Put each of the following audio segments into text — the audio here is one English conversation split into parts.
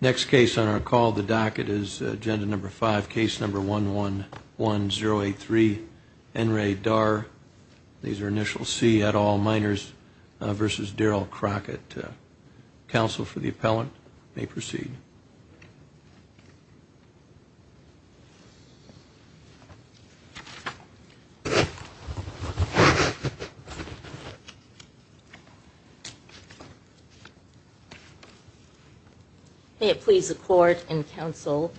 Next case on our call the docket is agenda number five case number one one one zero eight three and radar these are initial C at all minors versus Daryl Crockett counsel for the appellant may proceed may it please the court and counsel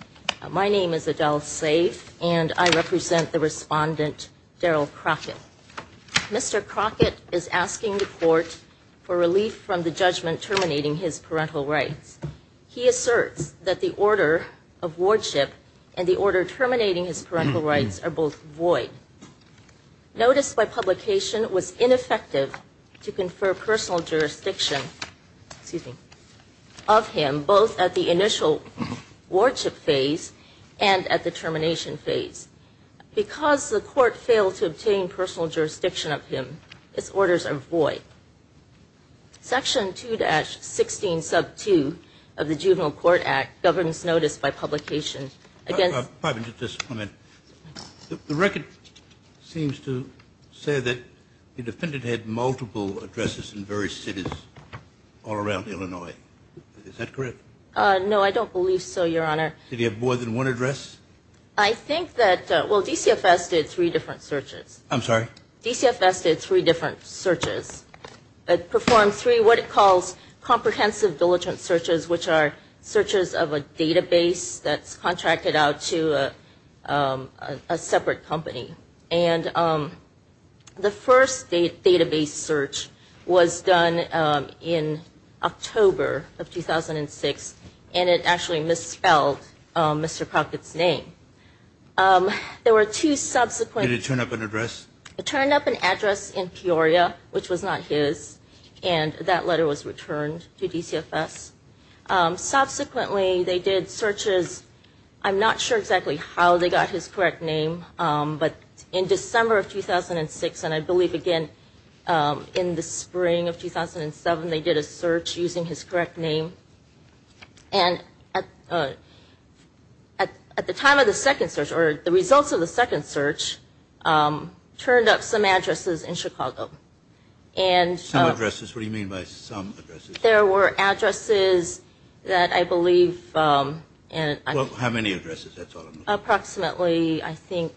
my name is Adele safe and I represent the respondent Daryl Crockett mr. Crockett is asking the court for relief from the judgment terminating his parental rights he asserts that the order of wardship and the order terminating his parental rights are both void notice by publication was ineffective to confer personal jurisdiction of him both at the initial wardship phase and at the termination phase because the court failed to obtain personal jurisdiction of him its orders are void section 2-16 sub 2 of the juvenile court act governs notice by publication again the record seems to say that the defendant had multiple addresses in various cities all around Illinois is that correct no I don't believe so your honor did you have more than one address I think that well DCFS did three different searches I'm sorry DCFS did three different searches it performed three what it calls comprehensive diligent searches which are searches of a database that's company and the first database search was done in October of 2006 and it actually misspelled mr. Crockett's name there were two subsequent it turned up an address it turned up an address in Peoria which was not his and that letter was returned to DCFS subsequently they did searches I'm not sure exactly how they got his correct name but in December of 2006 and I believe again in the spring of 2007 they did a search using his correct name and at the time of the second search or the results of the second search turned up some addresses in Chicago and some addresses what do you mean by some there were addresses that I believe approximately I think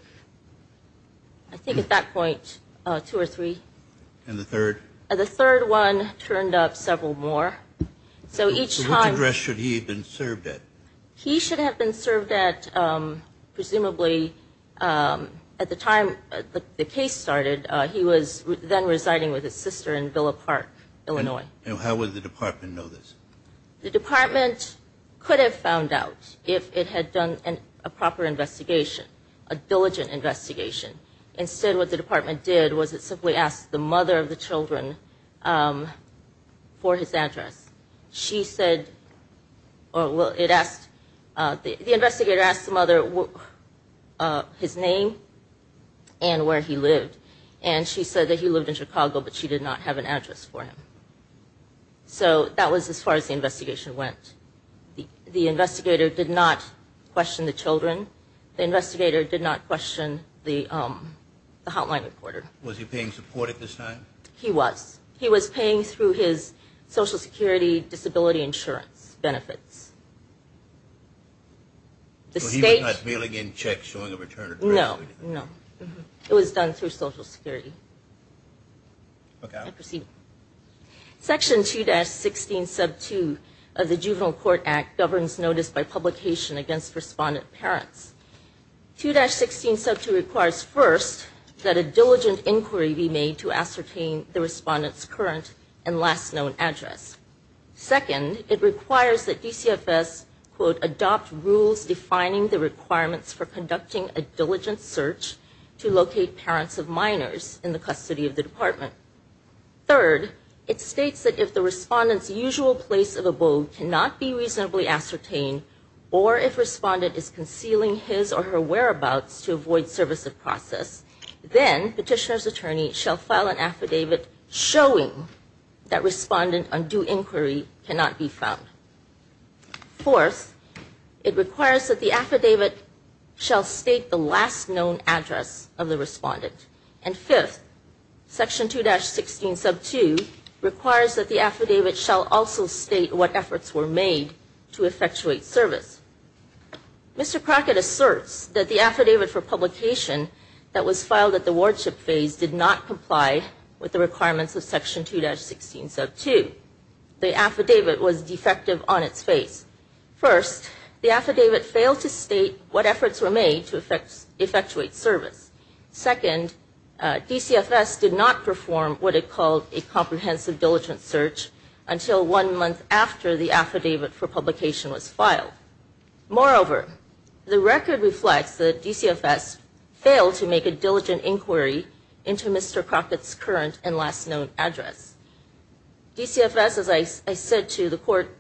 I think at that point two or three and the third the third one turned up several more so each time address should he have been served at he should have been served at presumably at the time the case started he was then residing with his sister in Villa Park Illinois and how would the department know this the department could have found out if it had done a proper investigation a diligent investigation instead what the department did was it simply asked the mother of the children for his address she said oh well it asked the investigator asked the mother his name and where he lived and she said that he lived in Chicago but she did not have an address for him so that was as far as the investigation went the investigator did not question the children the investigator did not question the hotline reporter was he paying support at this time he was he was paying through his Social Security disability insurance benefits the state check showing a return no no it was done through Social Security okay I proceed section 2-16 sub 2 of the juvenile court act governs notice by publication against respondent parents 2-16 sub 2 requires first that a diligent inquiry be made to ascertain the respondents current and last known address second it requires that DCFS quote adopt rules defining the requirements for conducting a diligent search to locate parents of minors in the custody of the department third it states that if the respondents usual place of a boat cannot be reasonably ascertained or if respondent is concealing his or her whereabouts to avoid service of process then petitioner's attorney shall file an affidavit showing that respondent undue inquiry cannot be found fourth it requires that the affidavit shall state the last known address of the respondent and fifth section 2-16 sub 2 requires that the affidavit shall also state what efforts were made to effectuate service mr. Crockett asserts that the affidavit for publication that was filed at the courtship phase did not comply with the requirements of section 2-16 sub 2 the affidavit was defective on its face first the affidavit failed to state what efforts were made to effectuate service second DCFS did not perform what it called a comprehensive diligent search until one month after the affidavit for publication was filed moreover the record reflects that DCFS failed to make a diligent inquiry into mr. Crockett's current and last known address DCFS as I said to the court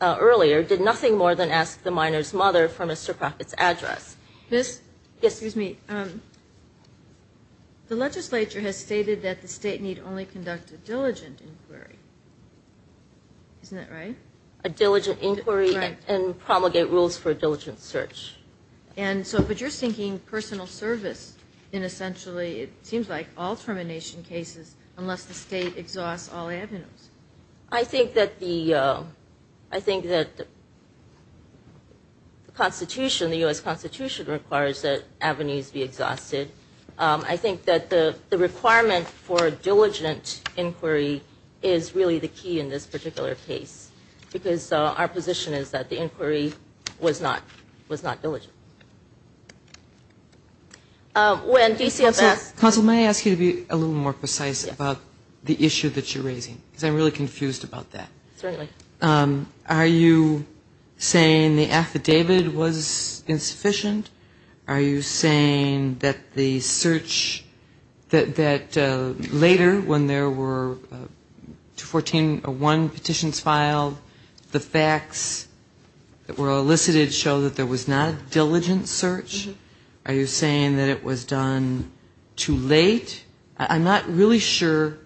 earlier did nothing more than ask the minors mother for mr. Crockett's address miss yes excuse me the legislature has stated that the state need only conduct a diligent inquiry isn't that right a diligent inquiry and promulgate rules for a diligent search and so but you're seeking personal service in essentially it seems like all termination cases unless the state exhausts all avenues I think that the I think that the Constitution the US Constitution requires that avenues be exhausted I think that the the requirement for a diligent inquiry is really the key in this particular case because our position is that the inquiry was not was not diligent when DCFS also may I ask you to be a little more precise about the issue that you're raising because I'm really confused about that certainly are you saying the affidavit was insufficient are you saying that the search that later when there were two fourteen or one petitions filed the facts that were elicited show that there was not a diligent search are you saying that it was done too late I'm not really sure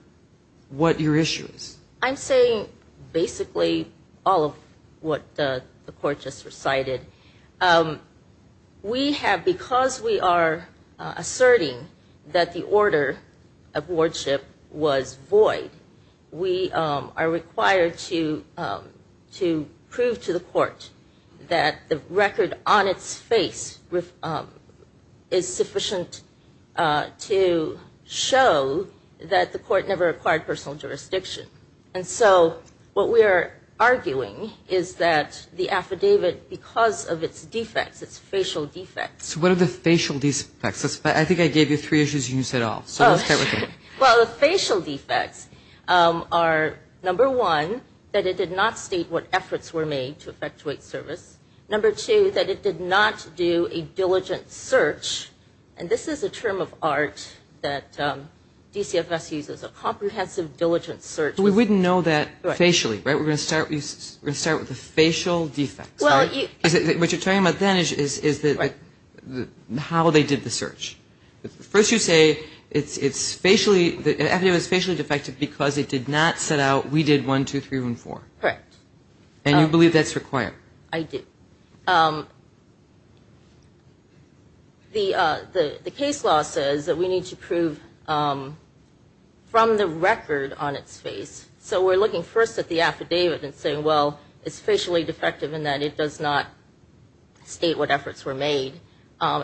what your issues I'm saying basically all of what the court just recited we have because we are asserting that the order of wardship was void we are required to to prove to the court that the record on its face is sufficient to show that the court never acquired personal jurisdiction and so what we are arguing is that the affidavit because of its defects its facial defects what are the facial defects I think I gave you three issues you said all facial defects are number one that it did not state what efforts were made to effectuate service number two that it did not do a diligent search and this is a term of art that DCFS uses a comprehensive diligent search we wouldn't know that facially right we're gonna start we start with the facial defects what you're talking about then is that how they did the search first you say it's it's facially it was facially defective because it did not set out we did one two three and four correct and you believe that's required I did the the case law says that we need to prove from the record on its face so we're looking first at the affidavit and well it's facially defective in that it does not state what efforts were made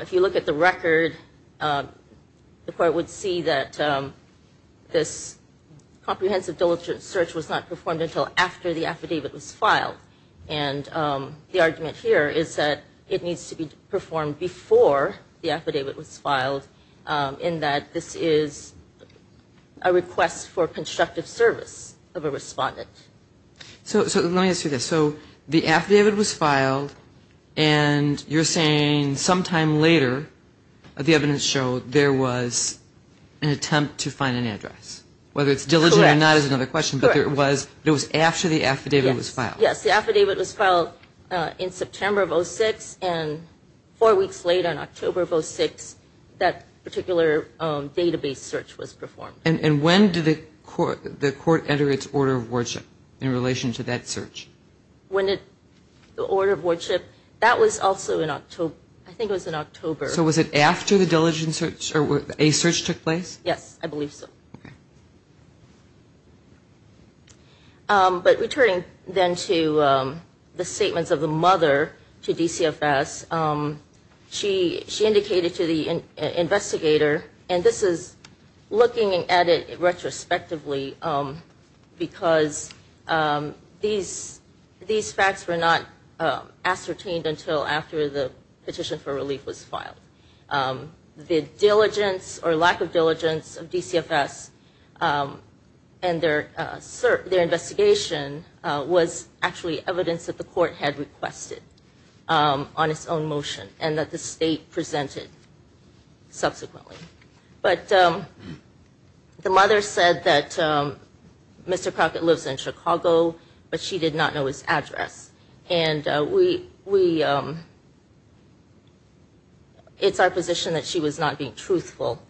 if you look at the record the court would see that this comprehensive diligent search was not performed until after the affidavit was filed and the argument here is that it needs to be performed before the affidavit was filed in that this is a request for constructive service of a respondent so let me see this so the affidavit was filed and you're saying sometime later the evidence showed there was an attempt to find an address whether it's diligent or not is another question but there was it was after the affidavit was filed yes the affidavit was filed in September of 06 and four weeks late on October of 06 that particular database search was performed and when did the court the court enter its order of worship in relation to that search when it the order of worship that was also in October I think it was in October so was it after the diligent search or with a search took place yes I believe so but returning then to the statements of the mother to DCFS she she indicated to the investigator and this is looking at it retrospectively because these these facts were not ascertained until after the petition for relief was filed the diligence or lack of diligence of DCFS and their sir their investigation was actually evidence that the court had requested on its own motion and that the presented subsequently but the mother said that mr. Crockett lives in Chicago but she did not know his address and we we it's our position that she was not being truthful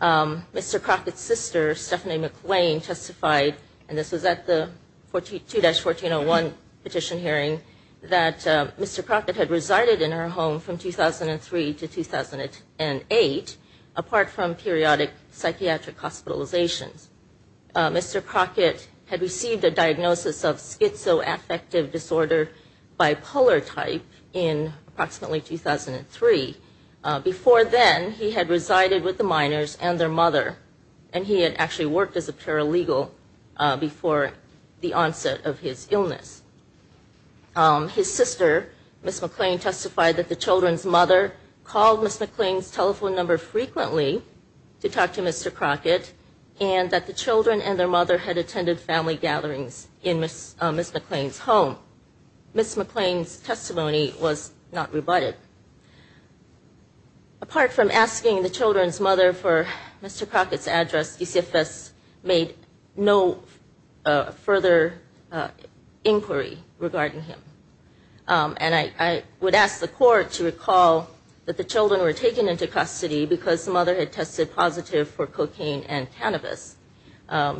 mr. Crockett sister Stephanie McLean testified and this was at the 42-1401 petition hearing that mr. Crockett had resided in her home from 2003 to 2008 apart from periodic psychiatric hospitalizations mr. Crockett had received a diagnosis of schizoaffective disorder bipolar type in approximately 2003 before then he had resided with the minors and their mother and he had actually worked as a paralegal before the onset of his mother called miss McLean's telephone number frequently to talk to mr. Crockett and that the children and their mother had attended family gatherings in miss miss McLean's home miss McLean's testimony was not rebutted apart from asking the children's mother for mr. Crockett's address DCFS made no further inquiry regarding him and I would ask the court to recall that the children were taken into custody because the mother had tested positive for cocaine and cannabis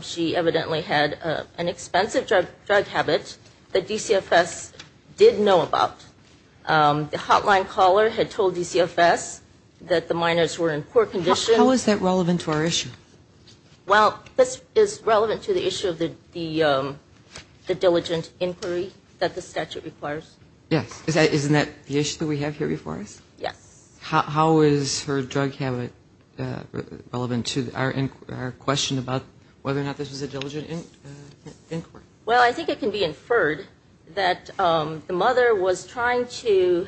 she evidently had an expensive drug habit that DCFS did know about the hotline caller had told DCFS that the minors were in poor condition how is that relevant to our issue well this is relevant to the issue of the the diligent inquiry that the statute requires yes is that isn't that the issue that we have here before us yes how is her drug habit relevant to our inquiry our question about whether or not this is a diligent inquiry well I think it can be inferred that the mother was trying to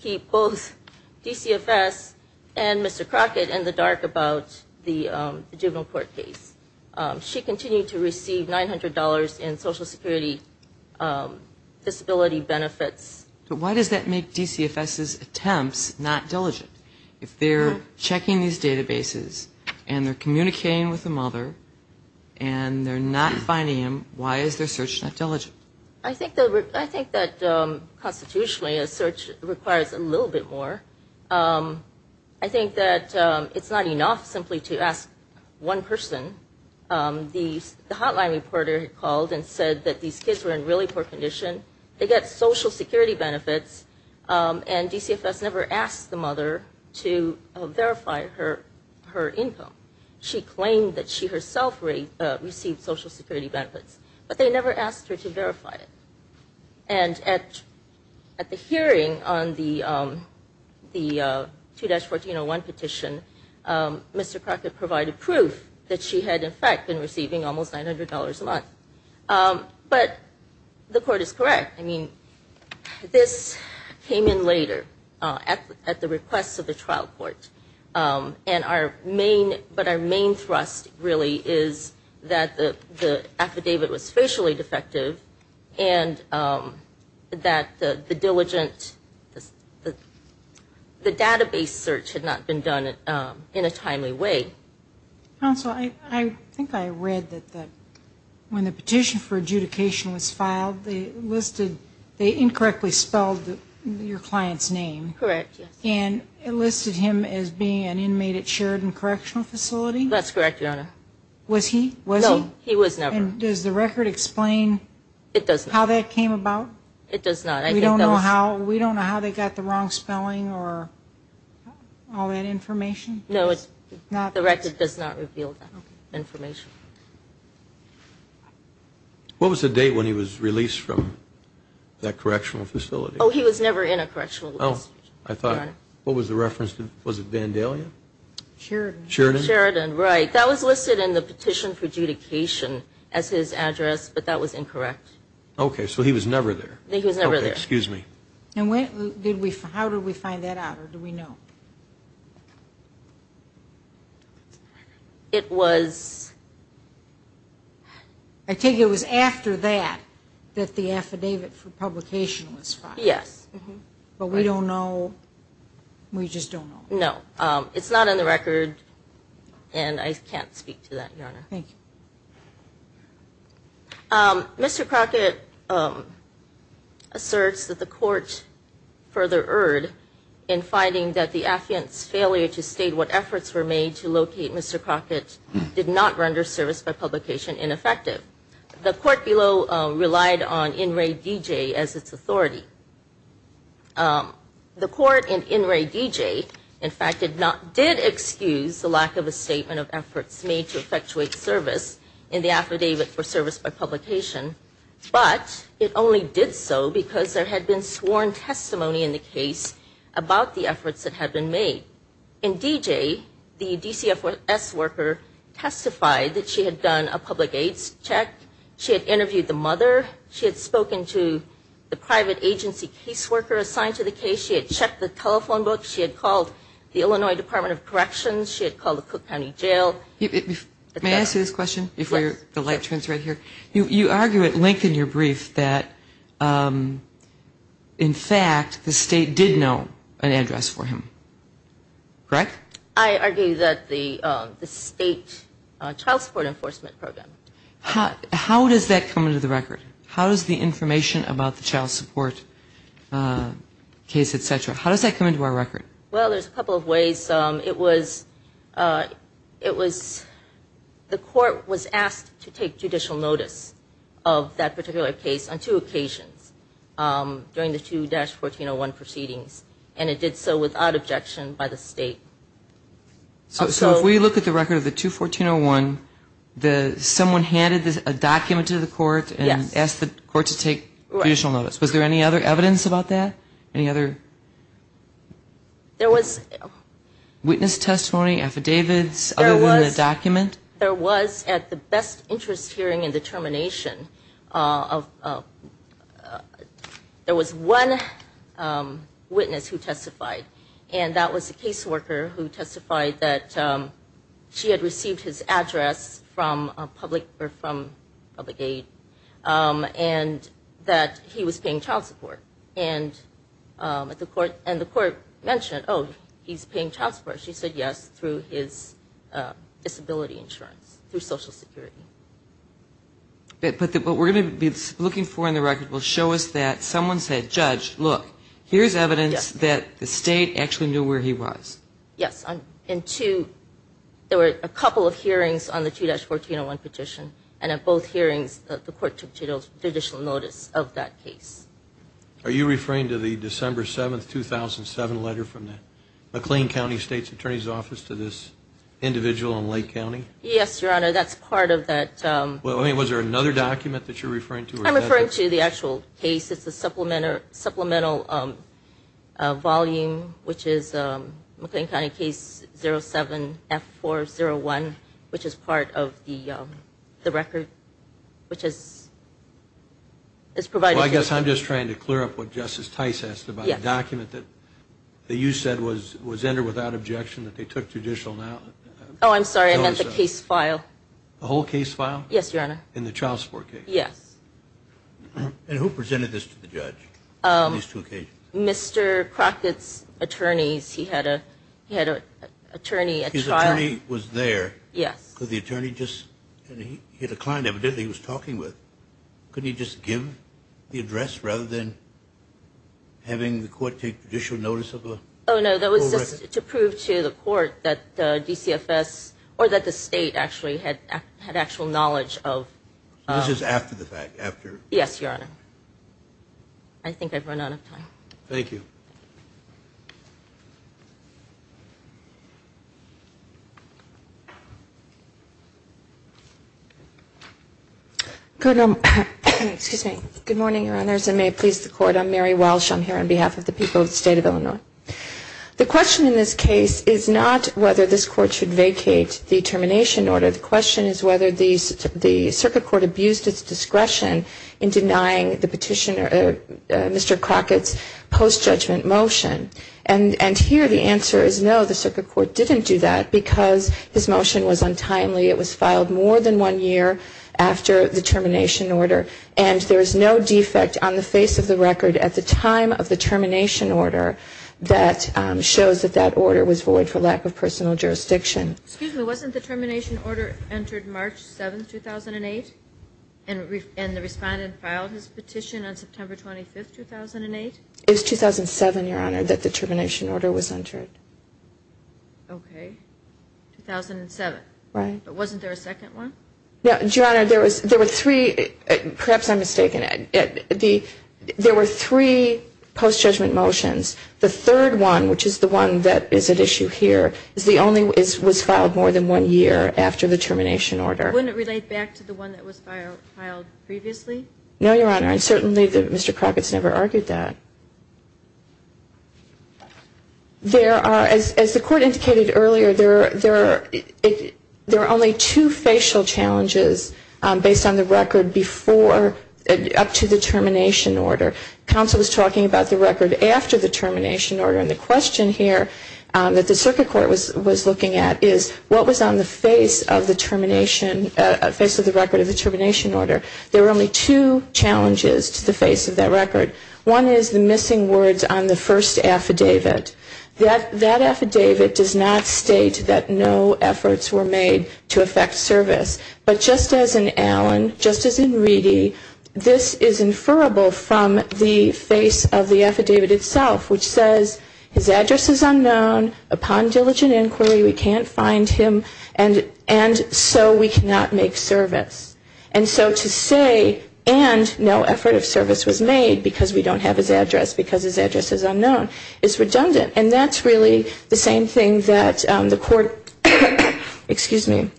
keep both DCFS and mr. Crockett in the dark about the juvenile court case she continued to receive $900 in Social Security disability benefits but why does that make DCFS's attempts not diligent if they're checking these databases and they're communicating with the mother and they're not finding him why is their search not diligent I think that I think that constitutionally a search requires a little bit more I think that it's not enough simply to ask one person these the hotline reporter called and said that these kids were in really poor condition they get Social Security benefits and DCFS never asked the mother to verify her her income she claimed that she herself rate received Social Security benefits but they never asked her to verify it and at at the hearing on the the 2-1401 petition mr. Crockett provided proof that she had in fact been receiving almost $900 a month but the court is correct I mean this came in later at the requests of the trial court and our main but our main thrust really is that the affidavit was facially defective and that the diligent the database search had not been done in a timely way I think I read that when the petition for adjudication was filed they listed they incorrectly spelled your clients name correct and enlisted him as being an inmate at Sheridan Correctional was he was he was never does the record explain it doesn't how that came about it does not I don't know how we don't know how they got the wrong spelling or all that information no it's not the record does not reveal that information what was the date when he was released from that correctional facility oh he was never in a correctional oh I thought what was the reference to was it Sheridan Sheridan right that was listed in the petition for adjudication as his address but that was incorrect okay so he was never there he was never there excuse me and when did we how do we find that out or do we know it was I think it was after that that the affidavit for publication was yes but we don't know we it's not on the record and I can't speak to that your honor thank you Mr. Crockett asserts that the court further erred in finding that the affiance failure to state what efforts were made to locate Mr. Crockett did not render service by publication ineffective the court below relied on in Ray DJ as its authority the court and in Ray DJ in fact did not did excuse the lack of a statement of efforts made to effectuate service in the affidavit for service by publication but it only did so because there had been sworn testimony in the case about the efforts that had been made in DJ the DCFS worker testified that she had done a public aids check she had interviewed the mother she had spoken to the private agency caseworker assigned to the case she had checked the telephone book she had called the Illinois Department of Corrections she had called the Cook County Jail may I ask you this question if you're the light turns right here you you argue at length in your brief that in fact the state did know an address for him correct I argue that the the state child support enforcement program how how does that come into the record how does the information about the child support case etc how does that come into our record well there's a couple of ways um it was uh it was the court was asked to take judicial notice of that particular case on two occasions um during the 2-1401 proceedings and it did so without objection by the state so if we look at the record of the 2-1401 the someone handed this a document to the court and asked the court to take judicial notice was there any other evidence about that any other there was witness testimony affidavits other than the document there was at the best interest hearing and determination uh of uh there was one um witness who testified and that was a case worker who testified that um she had received his address from a public or from public aid um and that he was paying child support and um at the court and the court mentioned oh he's paying child support she said yes through his uh disability insurance through social security but what we're going to be looking for in the record will show us that look here's evidence that the state actually knew where he was yes in two there were a couple of hearings on the 2-1401 petition and at both hearings the court took judicial notice of that case are you referring to the december 7 2007 letter from the mclean county state's attorney's office to this individual in lake county yes your honor that's part of that um well i mean was there another document that you're referring to i'm referring to the actual case it's a supplement or supplemental um uh volume which is um mclean county case 07 f 401 which is part of the um the record which is is provided i guess i'm just trying to clear up what justice tice has to buy a document that that you said was was entered without objection that they took judicial now oh i'm sorry i meant the case file the whole case file yes your honor in the child support case yes and who presented this to the judge um these two occasions mr crockett's attorneys he had a he had a attorney a child he was there yes could the attorney just and he had a client evidently he was talking with couldn't he just give the address rather than having the court take judicial oh no that was just to prove to the court that the dcfs or that the state actually had had actual knowledge of this is after the fact after yes your honor i think i've run out of time thank you good um excuse me good morning your honors and may it please the court i'm mary walsh i'm here on behalf of the people of the state of illinois the question in this case is not whether this court should vacate the termination order the question is whether the the circuit court abused its discretion in denying the petitioner mr crockett's post-judgment motion and and here the answer is no the circuit court didn't do that because his motion was untimely it was filed more than one year after the termination order and there is no defect on the face of the record at the time of the termination order that shows that that order was void for lack of personal jurisdiction excuse me wasn't the termination order entered march 7 2008 and and the respondent filed his petition on september 25 2008 it was 2007 your honor that the termination order was entered okay 2007 right but wasn't there a second one no your honor there was there were three perhaps i'm mistaken at the there were three post-judgment motions the third one which is the one that is at issue here is the only is was filed more than one year after the termination order wouldn't relate back to the one that was filed previously no your honor and certainly mr crockett's never argued that there are as as the court indicated earlier there there are only two facial challenges based on the record before up to the termination order council was talking about the record after the termination order and the question here that the circuit court was was looking at is what was on the face of the termination uh face of the record of the termination order there were only two challenges to the face of that record one is the missing words on the first affidavit that that affidavit does not state that no efforts were made to affect service but just as in allen just as in reedy this is inferable from the face of the affidavit itself which says his address is unknown upon diligent inquiry we can't find him and and so we cannot make service and so to say and no effort of service was made because we don't have his address because his address is unknown is redundant and that's really the same thing that um the court excuse me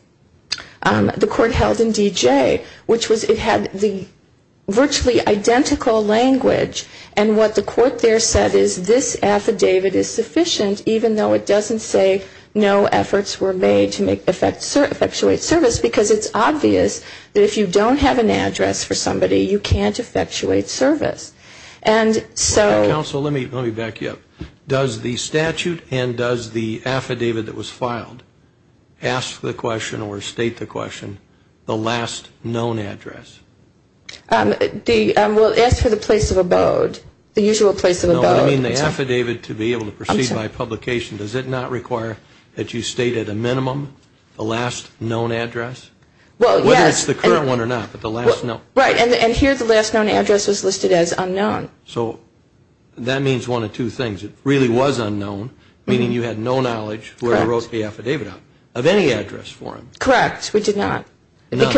um the court held in dj which was it had the virtually identical language and what the court there said is this affidavit is sufficient even though it doesn't say no efforts were made to make effect sir effectuate service because it's obvious that if you don't have an address for somebody you can't effectuate service and so counsel let me let me back you up does the statute and does the affidavit that was filed ask the question or state the question the last known address um the um we'll ask for the place of abode the usual place of abode i mean the affidavit to be able to proceed by publication does it not require that you state at a minimum the last known address well yes the current one or not but the last no right and here the last known address was listed as unknown so that means one of two things it really was unknown meaning you had no knowledge where he wrote the affidavit out of any address for him correct we did not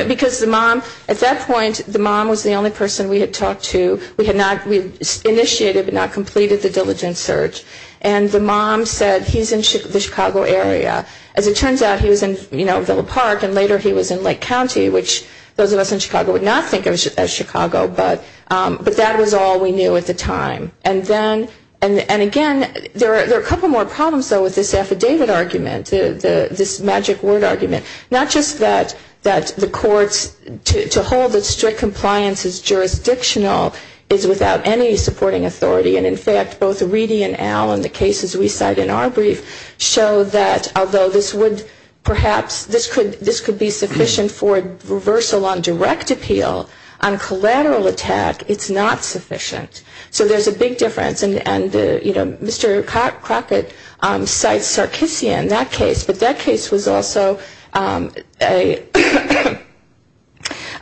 because the mom at that point the mom was the only person we had talked to we had not we initiated but not completed the diligent search and the mom said he's in the chicago area as it turns out he was in you know philip park and later he was in lake county which those of us in chicago would not think of as chicago but um but that was all we knew at the time and then and and again there are a couple more problems though with this affidavit argument the the this magic word argument not just that that the courts to hold that strict compliance is jurisdictional is without any supporting authority and in fact both reedy and al and the cases we cite in our brief show that although this would perhaps this could this could be sufficient for reversal on direct appeal on collateral attack it's not sufficient so there's a big difference and and you know mr crockett um cites sarkeesian that case but that case was also um a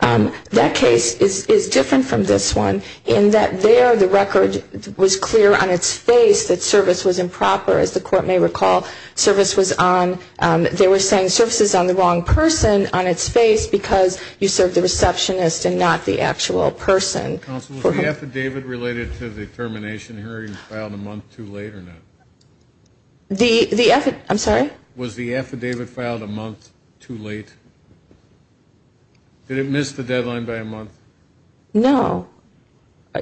um that case is is different from this one in that there the record was clear on its face that service was improper as the court may recall service was on um they were saying services on the wrong person on its face because you served the receptionist and not the actual person counsel was the affidavit related to the termination hearing filed a month too late or not the the effort i'm sorry was the affidavit filed a month too late did it miss the deadline by a month no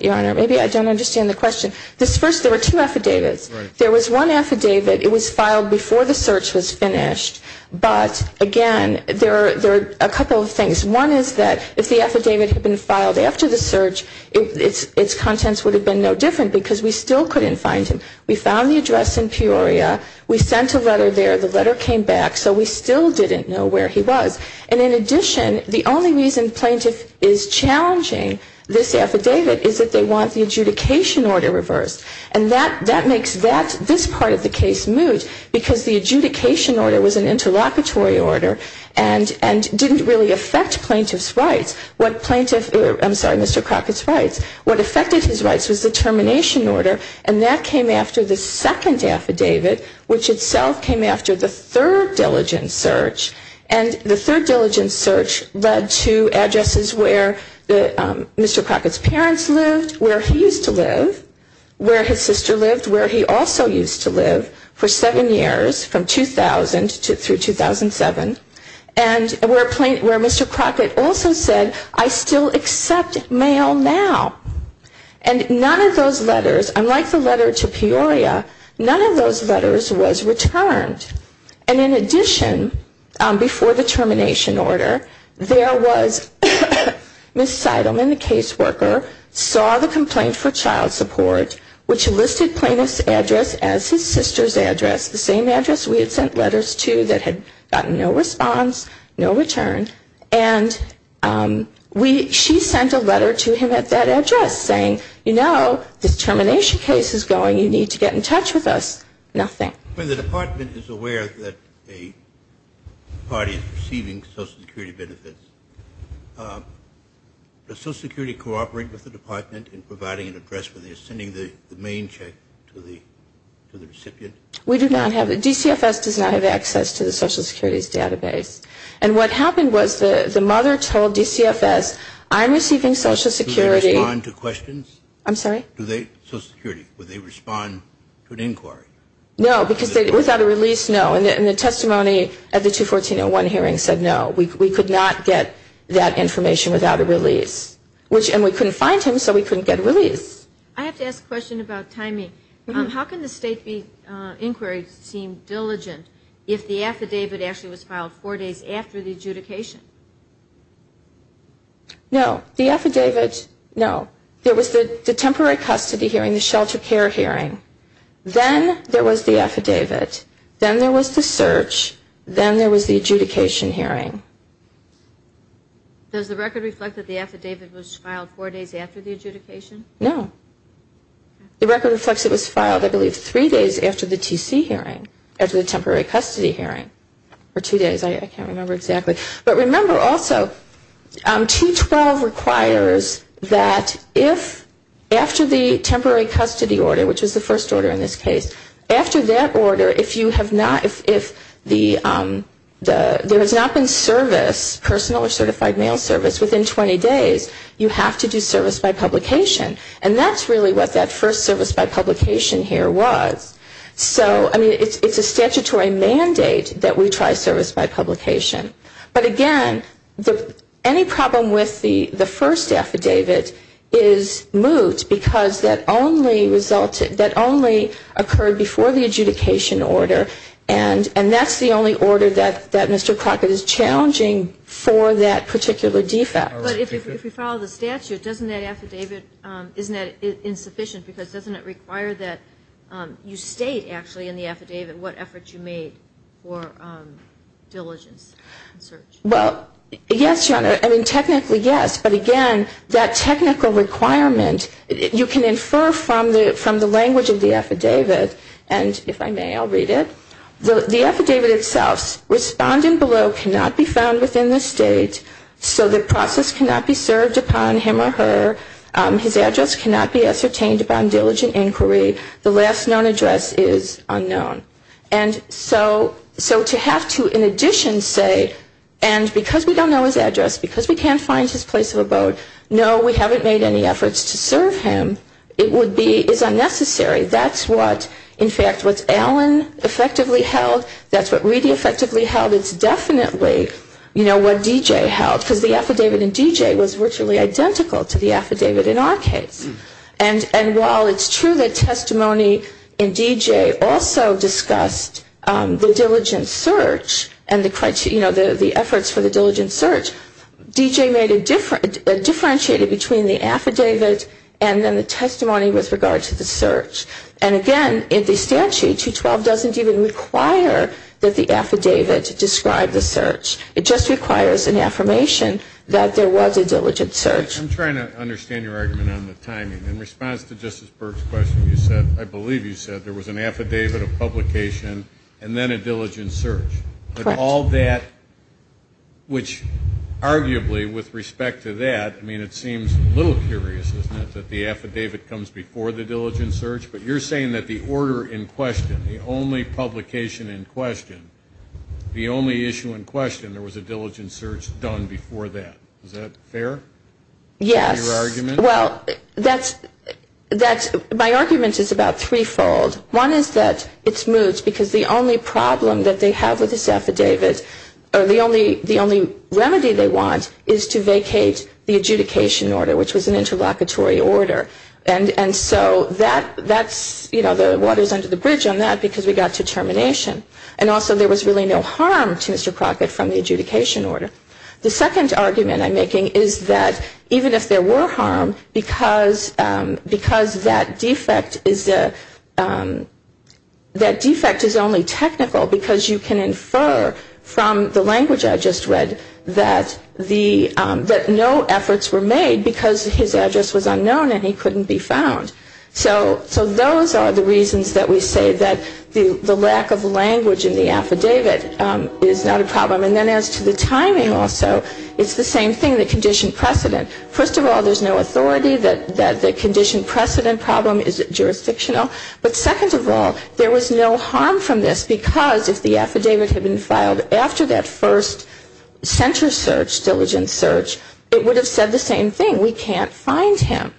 your honor maybe i don't understand the question this first there were two affidavits there was one affidavit it was filed before the search was finished but again there are there are a couple of things one is that if the affidavit had been filed after the search its its contents would have been no different because we still couldn't find him we found the address in peoria we sent a letter there the letter came back so we still didn't know where he was and in addition the only reason plaintiff is challenging this and that that makes that this part of the case moot because the adjudication order was an interlocutory order and and didn't really affect plaintiff's rights what plaintiff i'm sorry mr crockett's rights what affected his rights was the termination order and that came after the second affidavit which itself came after the third diligent search and the third diligent search led to addresses where the mr crockett's parents lived where he used to live where his sister lived where he also used to live for seven years from 2000 to 2007 and we're playing where mr crockett also said i still accept mail now and none of those letters unlike the letter to peoria none of those letters was returned and in addition before the termination order there was miss seidelman the caseworker saw the complaint for child support which listed plaintiff's address as his sister's address the same address we had sent letters to that had gotten no response no return and we she sent a letter to him at that address saying you know this termination case is going you need to get in touch with us nothing when the department is aware that a party is receiving social security benefits does social security cooperate with the department in providing an address when they're sending the main check to the to the recipient we do not have the dcfs does not have access to the social securities database and what happened was the the mother told dcfs i'm receiving social security questions i'm sorry do they social security would they respond to an inquiry no because they without a release no and the testimony at the 214-01 hearing said no we could not get that information without a release which and we couldn't find him so we couldn't get a release i have to ask a question about timing um how can the state be uh inquiry seem diligent if the affidavit actually was filed four days after the adjudication no the affidavits no there was the the temporary custody hearing the shelter care hearing then there was the affidavit then there was the search then there was the adjudication hearing does the record reflect that the affidavit was filed four days after the adjudication no the record reflects it was filed i believe three days after the tc hearing after the temporary custody hearing for two days i can't remember exactly but remember also um 212 requires that if after the temporary custody order which is the first order in this case after that order if you have not if if the um the there has not been service personal or certified mail service within 20 days you have to do service by publication and that's really what first service by publication here was so i mean it's it's a statutory mandate that we try service by publication but again the any problem with the the first affidavit is moot because that only resulted that only occurred before the adjudication order and and that's the only order that that mr crockett is challenging for that particular defect but if you follow the statute doesn't that affidavit um isn't that insufficient because doesn't it require that um you state actually in the affidavit what effort you made for um diligence and search well yes your honor i mean technically yes but again that technical requirement you can infer from the from the language of the affidavit and if i may i'll read it the the affidavit itself's respondent below cannot be found within the state so the process cannot be served upon him or her um his address cannot be ascertained upon diligent inquiry the last known address is unknown and so so to have to in addition say and because we don't know his address because we can't find his place of abode no we haven't made any efforts to serve him it would be is unnecessary that's what in fact what's effectively held that's what really effectively held it's definitely you know what dj held because the affidavit and dj was virtually identical to the affidavit in our case and and while it's true that testimony in dj also discussed um the diligent search and the criteria you know the the efforts for the diligent search dj made a different differentiated between the affidavit and then testimony with regard to the search and again in the statute 212 doesn't even require that the affidavit describe the search it just requires an affirmation that there was a diligent search i'm trying to understand your argument on the timing in response to justice burke's question you said i believe you said there was an affidavit of publication and then a diligent search but all that which arguably with respect to that i mean it seems a little curious isn't it that the affidavit comes before the diligent search but you're saying that the order in question the only publication in question the only issue in question there was a diligent search done before that is that fair yes your argument well that's that's my argument is about threefold one is that it's moved because the only problem that they have with this affidavit or the only the only remedy they want is to vacate the adjudication order which was an interlocutory order and and so that that's you know the water's under the bridge on that because we got to termination and also there was really no harm to mr crockett from the adjudication order the second argument i'm making is that even if there were harm because um because that defect is a um that defect is only technical because you can infer from the language i just read that the um that no efforts were made because his address was unknown and he couldn't be found so so those are the reasons that we say that the the lack of language in the affidavit um is not a problem and then as to the timing also it's the same thing the condition precedent first of all there's no authority that that the condition precedent problem is it jurisdictional but second of all there was no harm from this because if the affidavit had been filed after that first center search diligence search it would have said the same thing we can't find him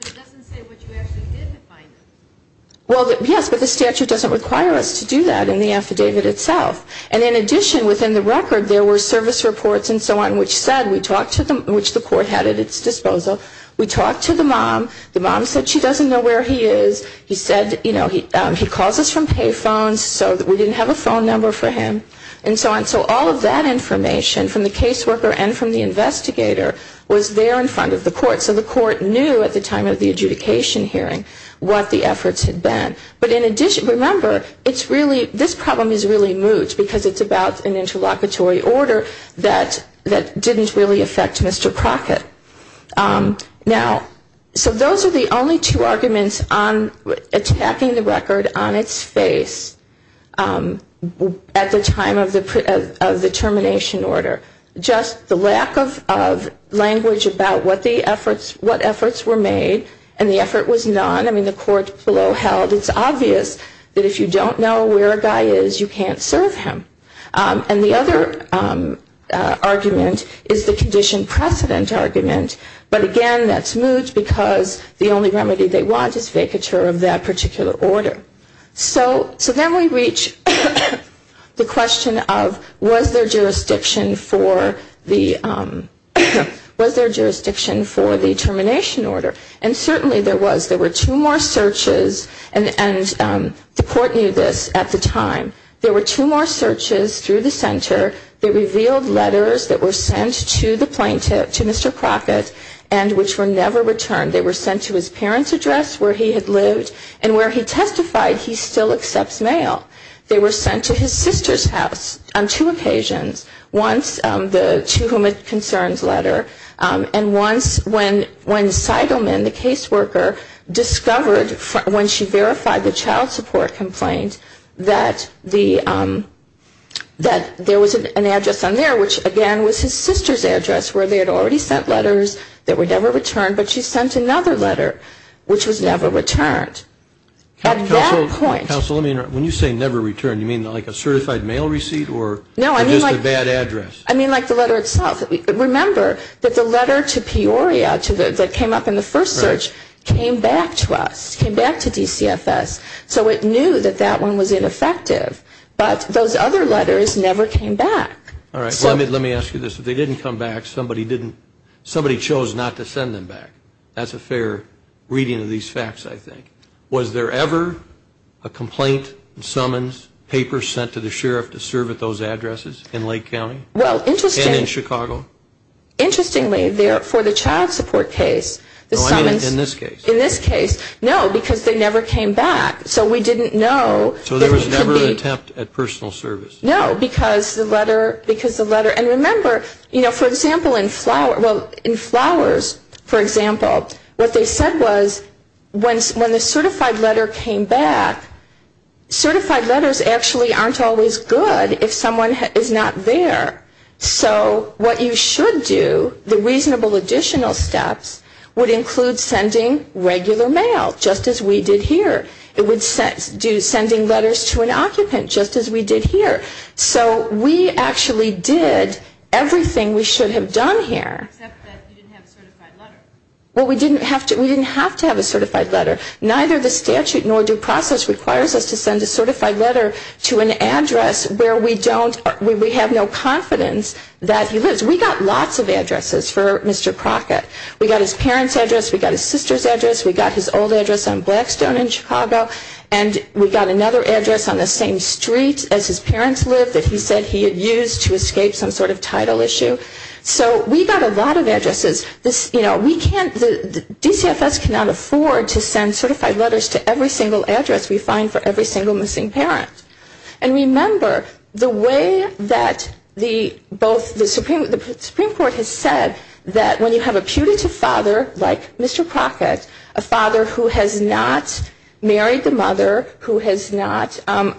it doesn't say what you actually didn't find him well yes but the statute doesn't require us to do that in the affidavit itself and in addition within the record there were service reports and so on which said we talked to them which the court had at its disposal we talked to mom the mom said she doesn't know where he is he said you know he um he calls us from pay phones so that we didn't have a phone number for him and so on so all of that information from the case worker and from the investigator was there in front of the court so the court knew at the time of the adjudication hearing what the efforts had been but in addition remember it's really this problem is really moot because it's about an interlocutory order that that didn't really affect Mr. Crockett now so those are the only two arguments on attacking the record on its face at the time of the of the termination order just the lack of of language about what the efforts what efforts were made and the effort was none I mean the court below held it's obvious that if you don't know where a guy is you can't serve him and the other argument is the condition precedent argument but again that's moot because the only remedy they want is vacature of that particular order so so then we reach the question of was there jurisdiction for the um was there jurisdiction for the termination order and certainly there was there were two more searches and and um the court knew this at the time there were two more searches through the center they revealed letters that were sent to the plaintiff to Mr. Crockett and which were never returned they were sent to his parents address where he had lived and where he testified he still accepts mail they were sent to his sister's house on two occasions once the to whom it concerns letter and once when when Seidelman the caseworker discovered when she verified the child complaint that the um that there was an address on there which again was his sister's address where they had already sent letters that were never returned but she sent another letter which was never returned at that point counsel let me know when you say never returned you mean like a certified mail receipt or no I mean like a bad address I mean like the letter itself remember that the letter to Peoria to the that came up in the first search came back to us came back to us but we knew that that one was ineffective but those other letters never came back all right let me let me ask you this if they didn't come back somebody didn't somebody chose not to send them back that's a fair reading of these facts I think was there ever a complaint summons papers sent to the sheriff to serve at those addresses in Lake County well interesting in Chicago interestingly there for the child support case the summons in this case in this case no because they never came back so we didn't know so there was never an attempt at personal service no because the letter because the letter and remember you know for example in flower well in flowers for example what they said was when when the certified letter came back certified letters actually aren't always good if someone is not there so what you should do the reasonable additional steps would include sending regular mail just as we did here it would set do sending letters to an occupant just as we did here so we actually did everything we should have done here except that you didn't have a certified letter well we didn't have to we didn't have to have a certified letter neither the statute nor due process requires us to send a certified letter to an address where we don't we have no confidence that he lives we got lots of addresses for Mr. Crockett we got his parents address we got his sister's address we got his old address on Blackstone in Chicago and we got another address on the same street as his parents lived that he said he had used to escape some sort of title issue so we got a lot of addresses this you know we can't the DCFS cannot afford to send certified letters to every single address we find for every single missing parent and remember the way that the both the Supreme the Supreme Court has said that when you have a putative father like Mr. Crockett a father who has not married the mother who has not you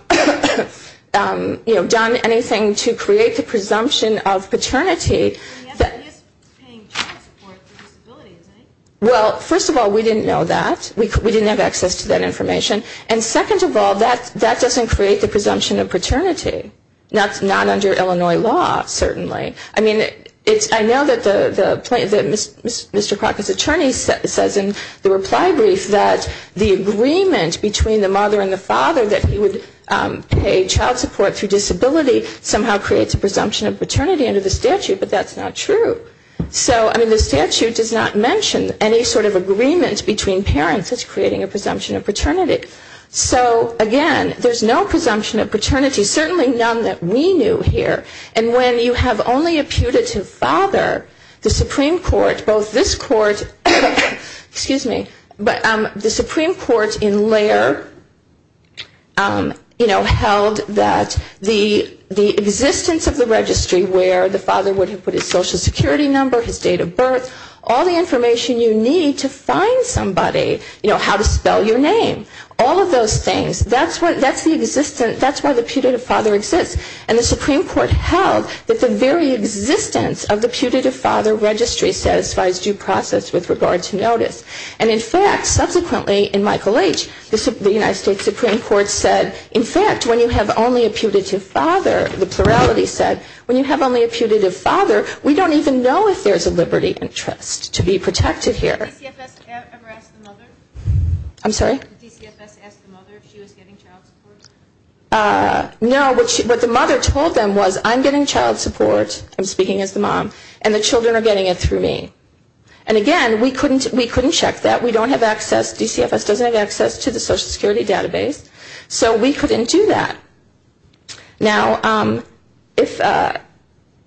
know done anything to create the presumption of paternity well first of all we didn't know that we didn't have access to that information and second of all that that doesn't create the presumption of paternity that's not under Illinois law certainly I mean it's I know that the the Mr. Crockett's attorney says in the reply brief that the agreement between the mother and the father that he would pay child support through disability somehow creates a presumption of paternity under the statute but that's not true so I mean the statute does not mention any sort of agreement between parents that's creating a so again there's no presumption of paternity certainly none that we knew here and when you have only a putative father the Supreme Court both this court excuse me but the Supreme Court in layer you know held that the the existence of the registry where the father would have put his social security number his date of birth all the information you need to find somebody you know how to spell your name all of those things that's what that's the existence that's why the putative father exists and the Supreme Court held that the very existence of the putative father registry satisfies due process with regard to notice and in fact subsequently in Michael H the United States Supreme Court said in fact when you have only a putative father the plurality said when you have only a putative father we don't even know if there's a liberty interest to be protected here I'm sorry DCFS asked the mother if she was getting child support uh no what she what the mother told them was I'm getting child support I'm speaking as the mom and the children are getting it through me and again we couldn't we couldn't check that we don't have access DCFS doesn't have access to the social security database so we couldn't do that now um if uh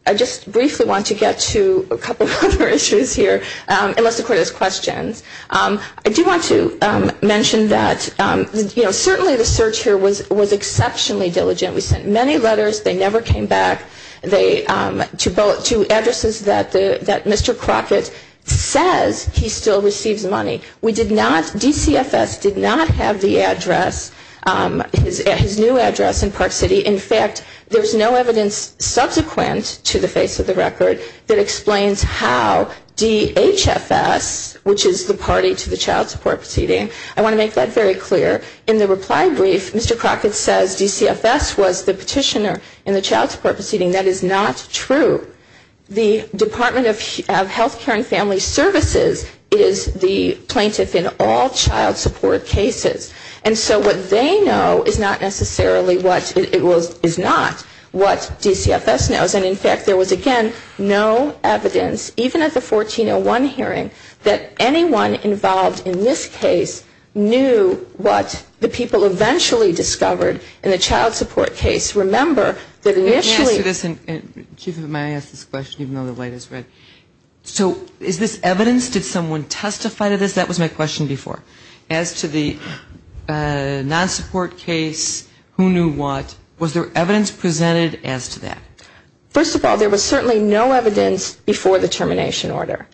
I just briefly want to get to a couple of other issues here um unless the court has questions um I do want to um mention that um you know certainly the search here was was exceptionally diligent we sent many letters they never came back they um to both to addresses that the that Mr. Crockett says he still receives money we did not DCFS did not have the address um his new address in Park City in fact there's no evidence subsequent to the face of the record that explains how DHFS which is the party to the child support proceeding I want to make that very clear in the reply brief Mr. Crockett says DCFS was the petitioner in the child support proceeding that is not true the department of health care and family services is the plaintiff in all child support cases and so what they know is not necessarily what it was is not what DCFS knows and in fact there was again no evidence even at the 1401 hearing that anyone involved in this case knew what the people eventually discovered in the child support case remember that initially this and chief of MI asked this question even though the light is red so is this evidence did someone testify to this that was my question before as to the uh non-support case who knew what was there evidence presented as to that first of all there was certainly no evidence before the termination order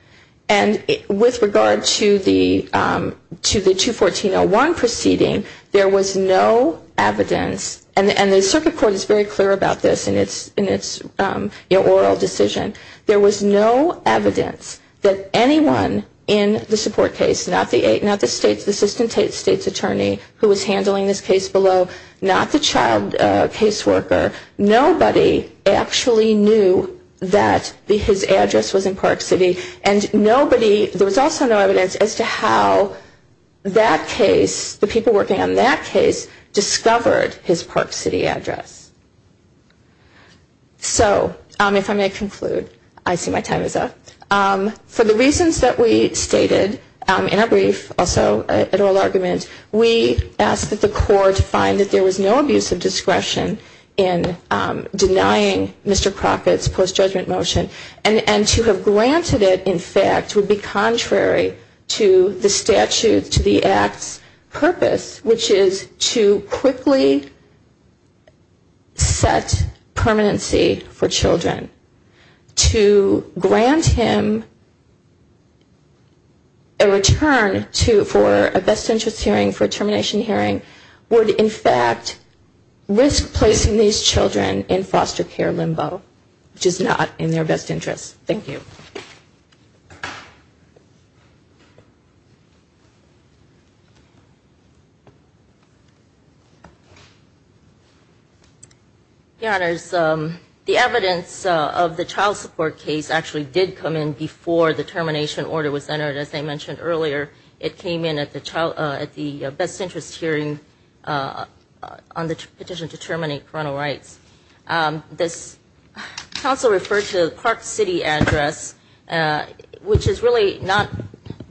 and with regard to the um to the 214-01 proceeding there was no evidence and and the circuit court is very clear about this in its in its um in oral decision there was no evidence that anyone in the support case not the eight not the state's assistant state's attorney who was handling this case below not the child case worker nobody actually knew that his address was in park city and nobody there was also no evidence as to how that case the people working on that case discovered his park city address so um if i may conclude i see my time is up um for the reasons that we stated um in our brief also at oral argument we asked that the court find that there was no abuse of discretion in um denying mr crockett's post-judgment motion and and to have granted it in fact would be contrary to the statute to the act's purpose which is to quickly set permanency for children to grant him a return to for a best interest hearing for a termination hearing would in fact risk placing these children in foster care limbo which is not in their best interest thank you your honors um the evidence of the child support case actually did come in before the termination order was entered as i mentioned earlier it came in at the child at the best interest hearing on the petition to terminate coronal rights um this council referred to park city address uh which is really not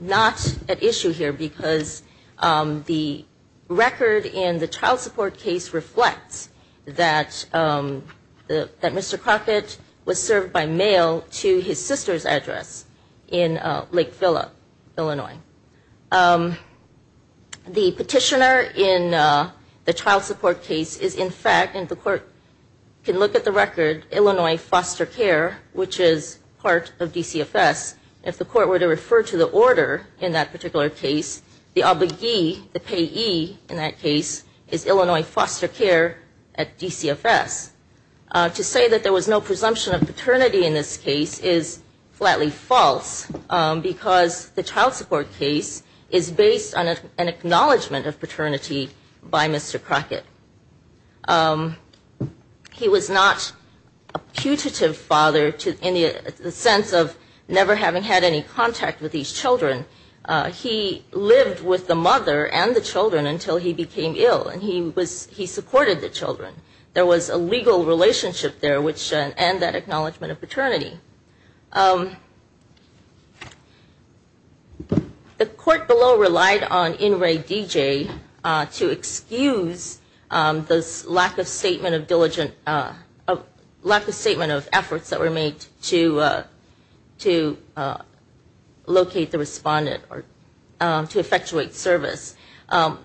not at issue here because um the record in the child support case reflects that um the that mr crockett was served by mail to his sister's address in lake phillip illinois the petitioner in uh the child support case is in fact and the court can look at the record illinois foster care which is part of dcfs if the court were to refer to the order in that at dcfs to say that there was no presumption of paternity in this case is flatly false because the child support case is based on an acknowledgement of paternity by mr crockett he was not a putative father to in the sense of never having had any contact with these children he lived with the mother and the children until he became ill and he was he supported the children there was a legal relationship there which and that acknowledgement of paternity the court below relied on inray dj uh to excuse um this lack of statement of diligent uh of lack um to effectuate service um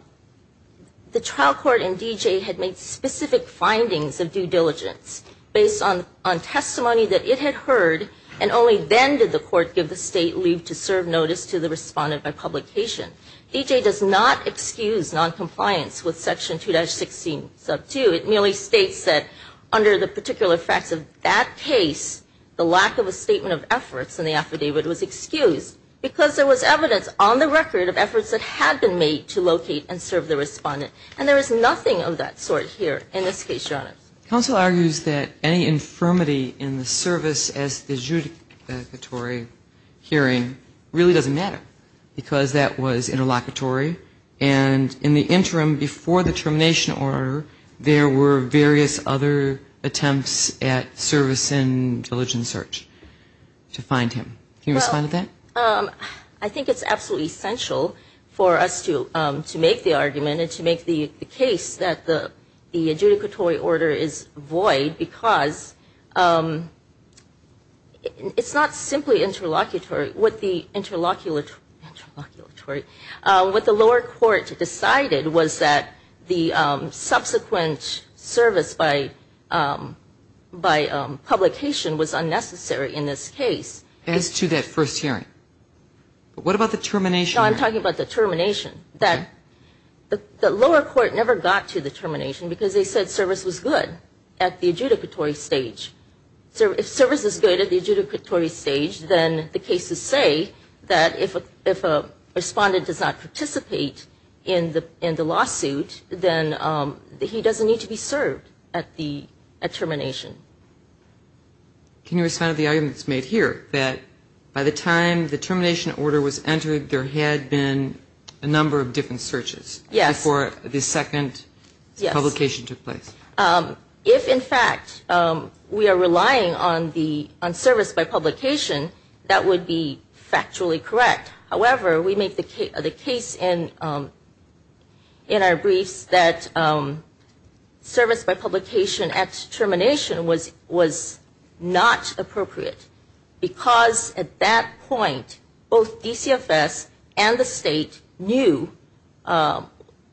the trial court and dj had made specific findings of due diligence based on on testimony that it had heard and only then did the court give the state leave to serve notice to the respondent by publication dj does not excuse non-compliance with section 2-16 sub 2 it merely states that under the particular facts of that case the lack of a statement of evidence on the record of efforts that had been made to locate and serve the respondent and there is nothing of that sort here in this case john counsel argues that any infirmity in the service as the judicatory hearing really doesn't matter because that was interlocutory and in the interim before the termination order there were various other attempts at service and diligent search to find him can you respond to that um i think it's absolutely essential for us to um to make the argument and to make the the case that the the adjudicatory order is void because um it's not simply interlocutory what the interlocular interlocutory uh what the lower court decided was that the um subsequent service by um by um publication was unnecessary in this case as to that first hearing what about the termination i'm talking about the termination that the lower court never got to the termination because they said service was good at the adjudicatory stage so if service is good at the adjudicatory stage then the cases say that if if a respondent does not participate in the in the lawsuit then um he doesn't need to be served at the at termination can you respond to the arguments made here that by the time the termination order was entered there had been a number of different searches yes before the second publication took place um if in fact um we are relying on the on service by publication that would be factually correct however we make the case of the case in um in our briefs that um service by publication at termination was was not appropriate because at that point both dcfs and the state knew um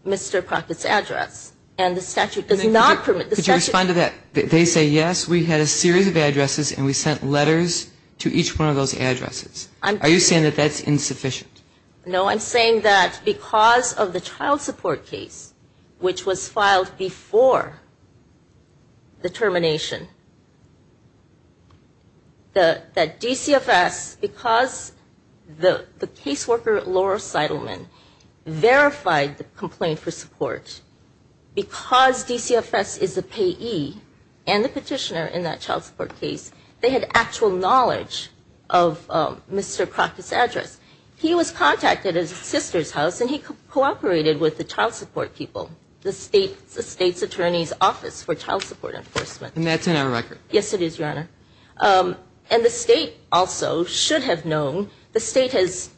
mr procter's address and the statute does not permit could you respond to that they say yes we had a series of addresses and we sent letters to each one of those addresses i'm are you saying that that's insufficient no i'm saying that because of the child support case which was filed before the termination the that dcfs because the the caseworker laura seidelman verified the complaint for support because dcfs is the payee and the petitioner in that child support case they had actual knowledge of mr procter's address he was contacted his sister's house and he cooperated with the child support people the state the state's attorney's office for child support enforcement and that's in our record yes it is your honor um and the state also should have known the state has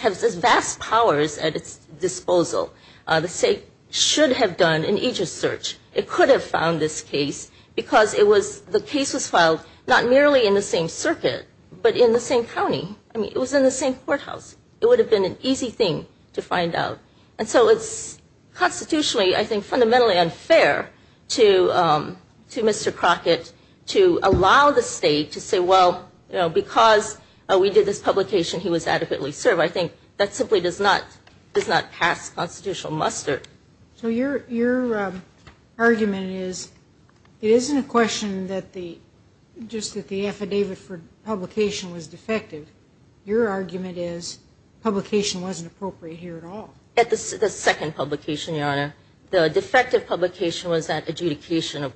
has vast powers at its disposal uh the state should have done an ages search it could have found this case because it was the case was filed not merely in the same circuit but in the same county i mean it was in the same courthouse it would have been an easy thing to find out and so it's constitutionally i think fundamentally unfair to um to mr crockett to allow the state to because we did this publication he was adequately served i think that simply does not does not pass constitutional muster so your your argument is it isn't a question that the just that the affidavit for publication was defective your argument is publication wasn't appropriate here at all at the second publication your honor the defective publication was that adjudication of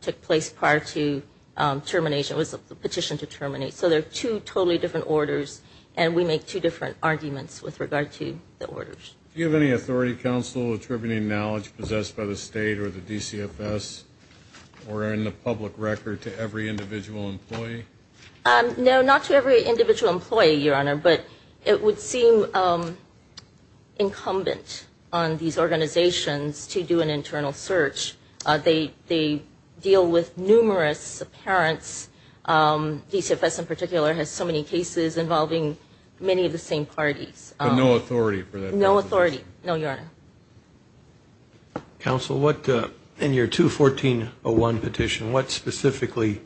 took place prior to termination it was a petition to terminate so they're two totally different orders and we make two different arguments with regard to the orders do you have any authority counsel attributing knowledge possessed by the state or the dcfs or in the public record to every individual employee um no not to every individual employee your honor but it would seem um incumbent on these organizations to do an internal search they they deal with numerous parents um dcfs in particular has so many cases involving many of the same parties but no authority for that no authority no your honor counsel what uh in your 214-01 petition what specifically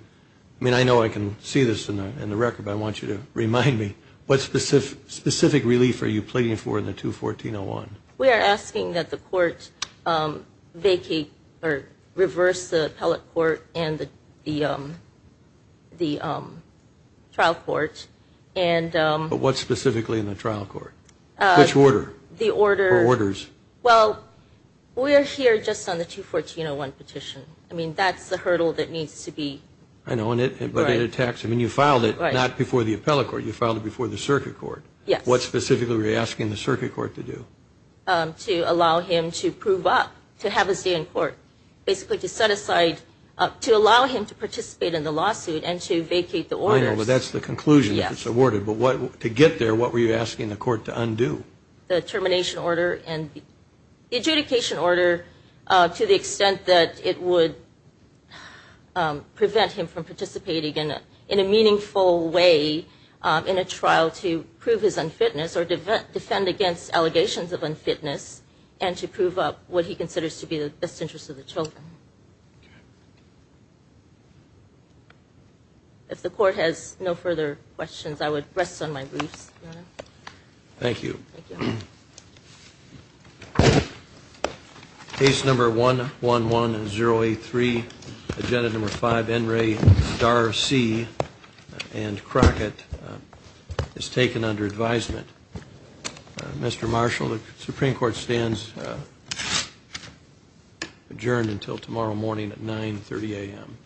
i mean i know i can see this in the in the record but i want you to remind me what specific specific relief are you or reverse the appellate court and the the um the um trial court and um but what specifically in the trial court which order the order orders well we're here just on the 214-01 petition i mean that's the hurdle that needs to be i know and it but it attacks i mean you filed it not before the appellate court you filed it before the circuit court yes what specifically were you to have his day in court basically to set aside uh to allow him to participate in the lawsuit and to vacate the order but that's the conclusion that's awarded but what to get there what were you asking the court to undo the termination order and the adjudication order uh to the extent that it would um prevent him from participating in a in a meaningful way um in a trial to prove his fitness and to prove up what he considers to be the best interest of the children if the court has no further questions i would rest on my briefs thank you case number one one one zero eight three agenda number five n ray star c and crockett is taken under advisement mr marshall the supreme court stands adjourned until tomorrow morning at 9 30 a.m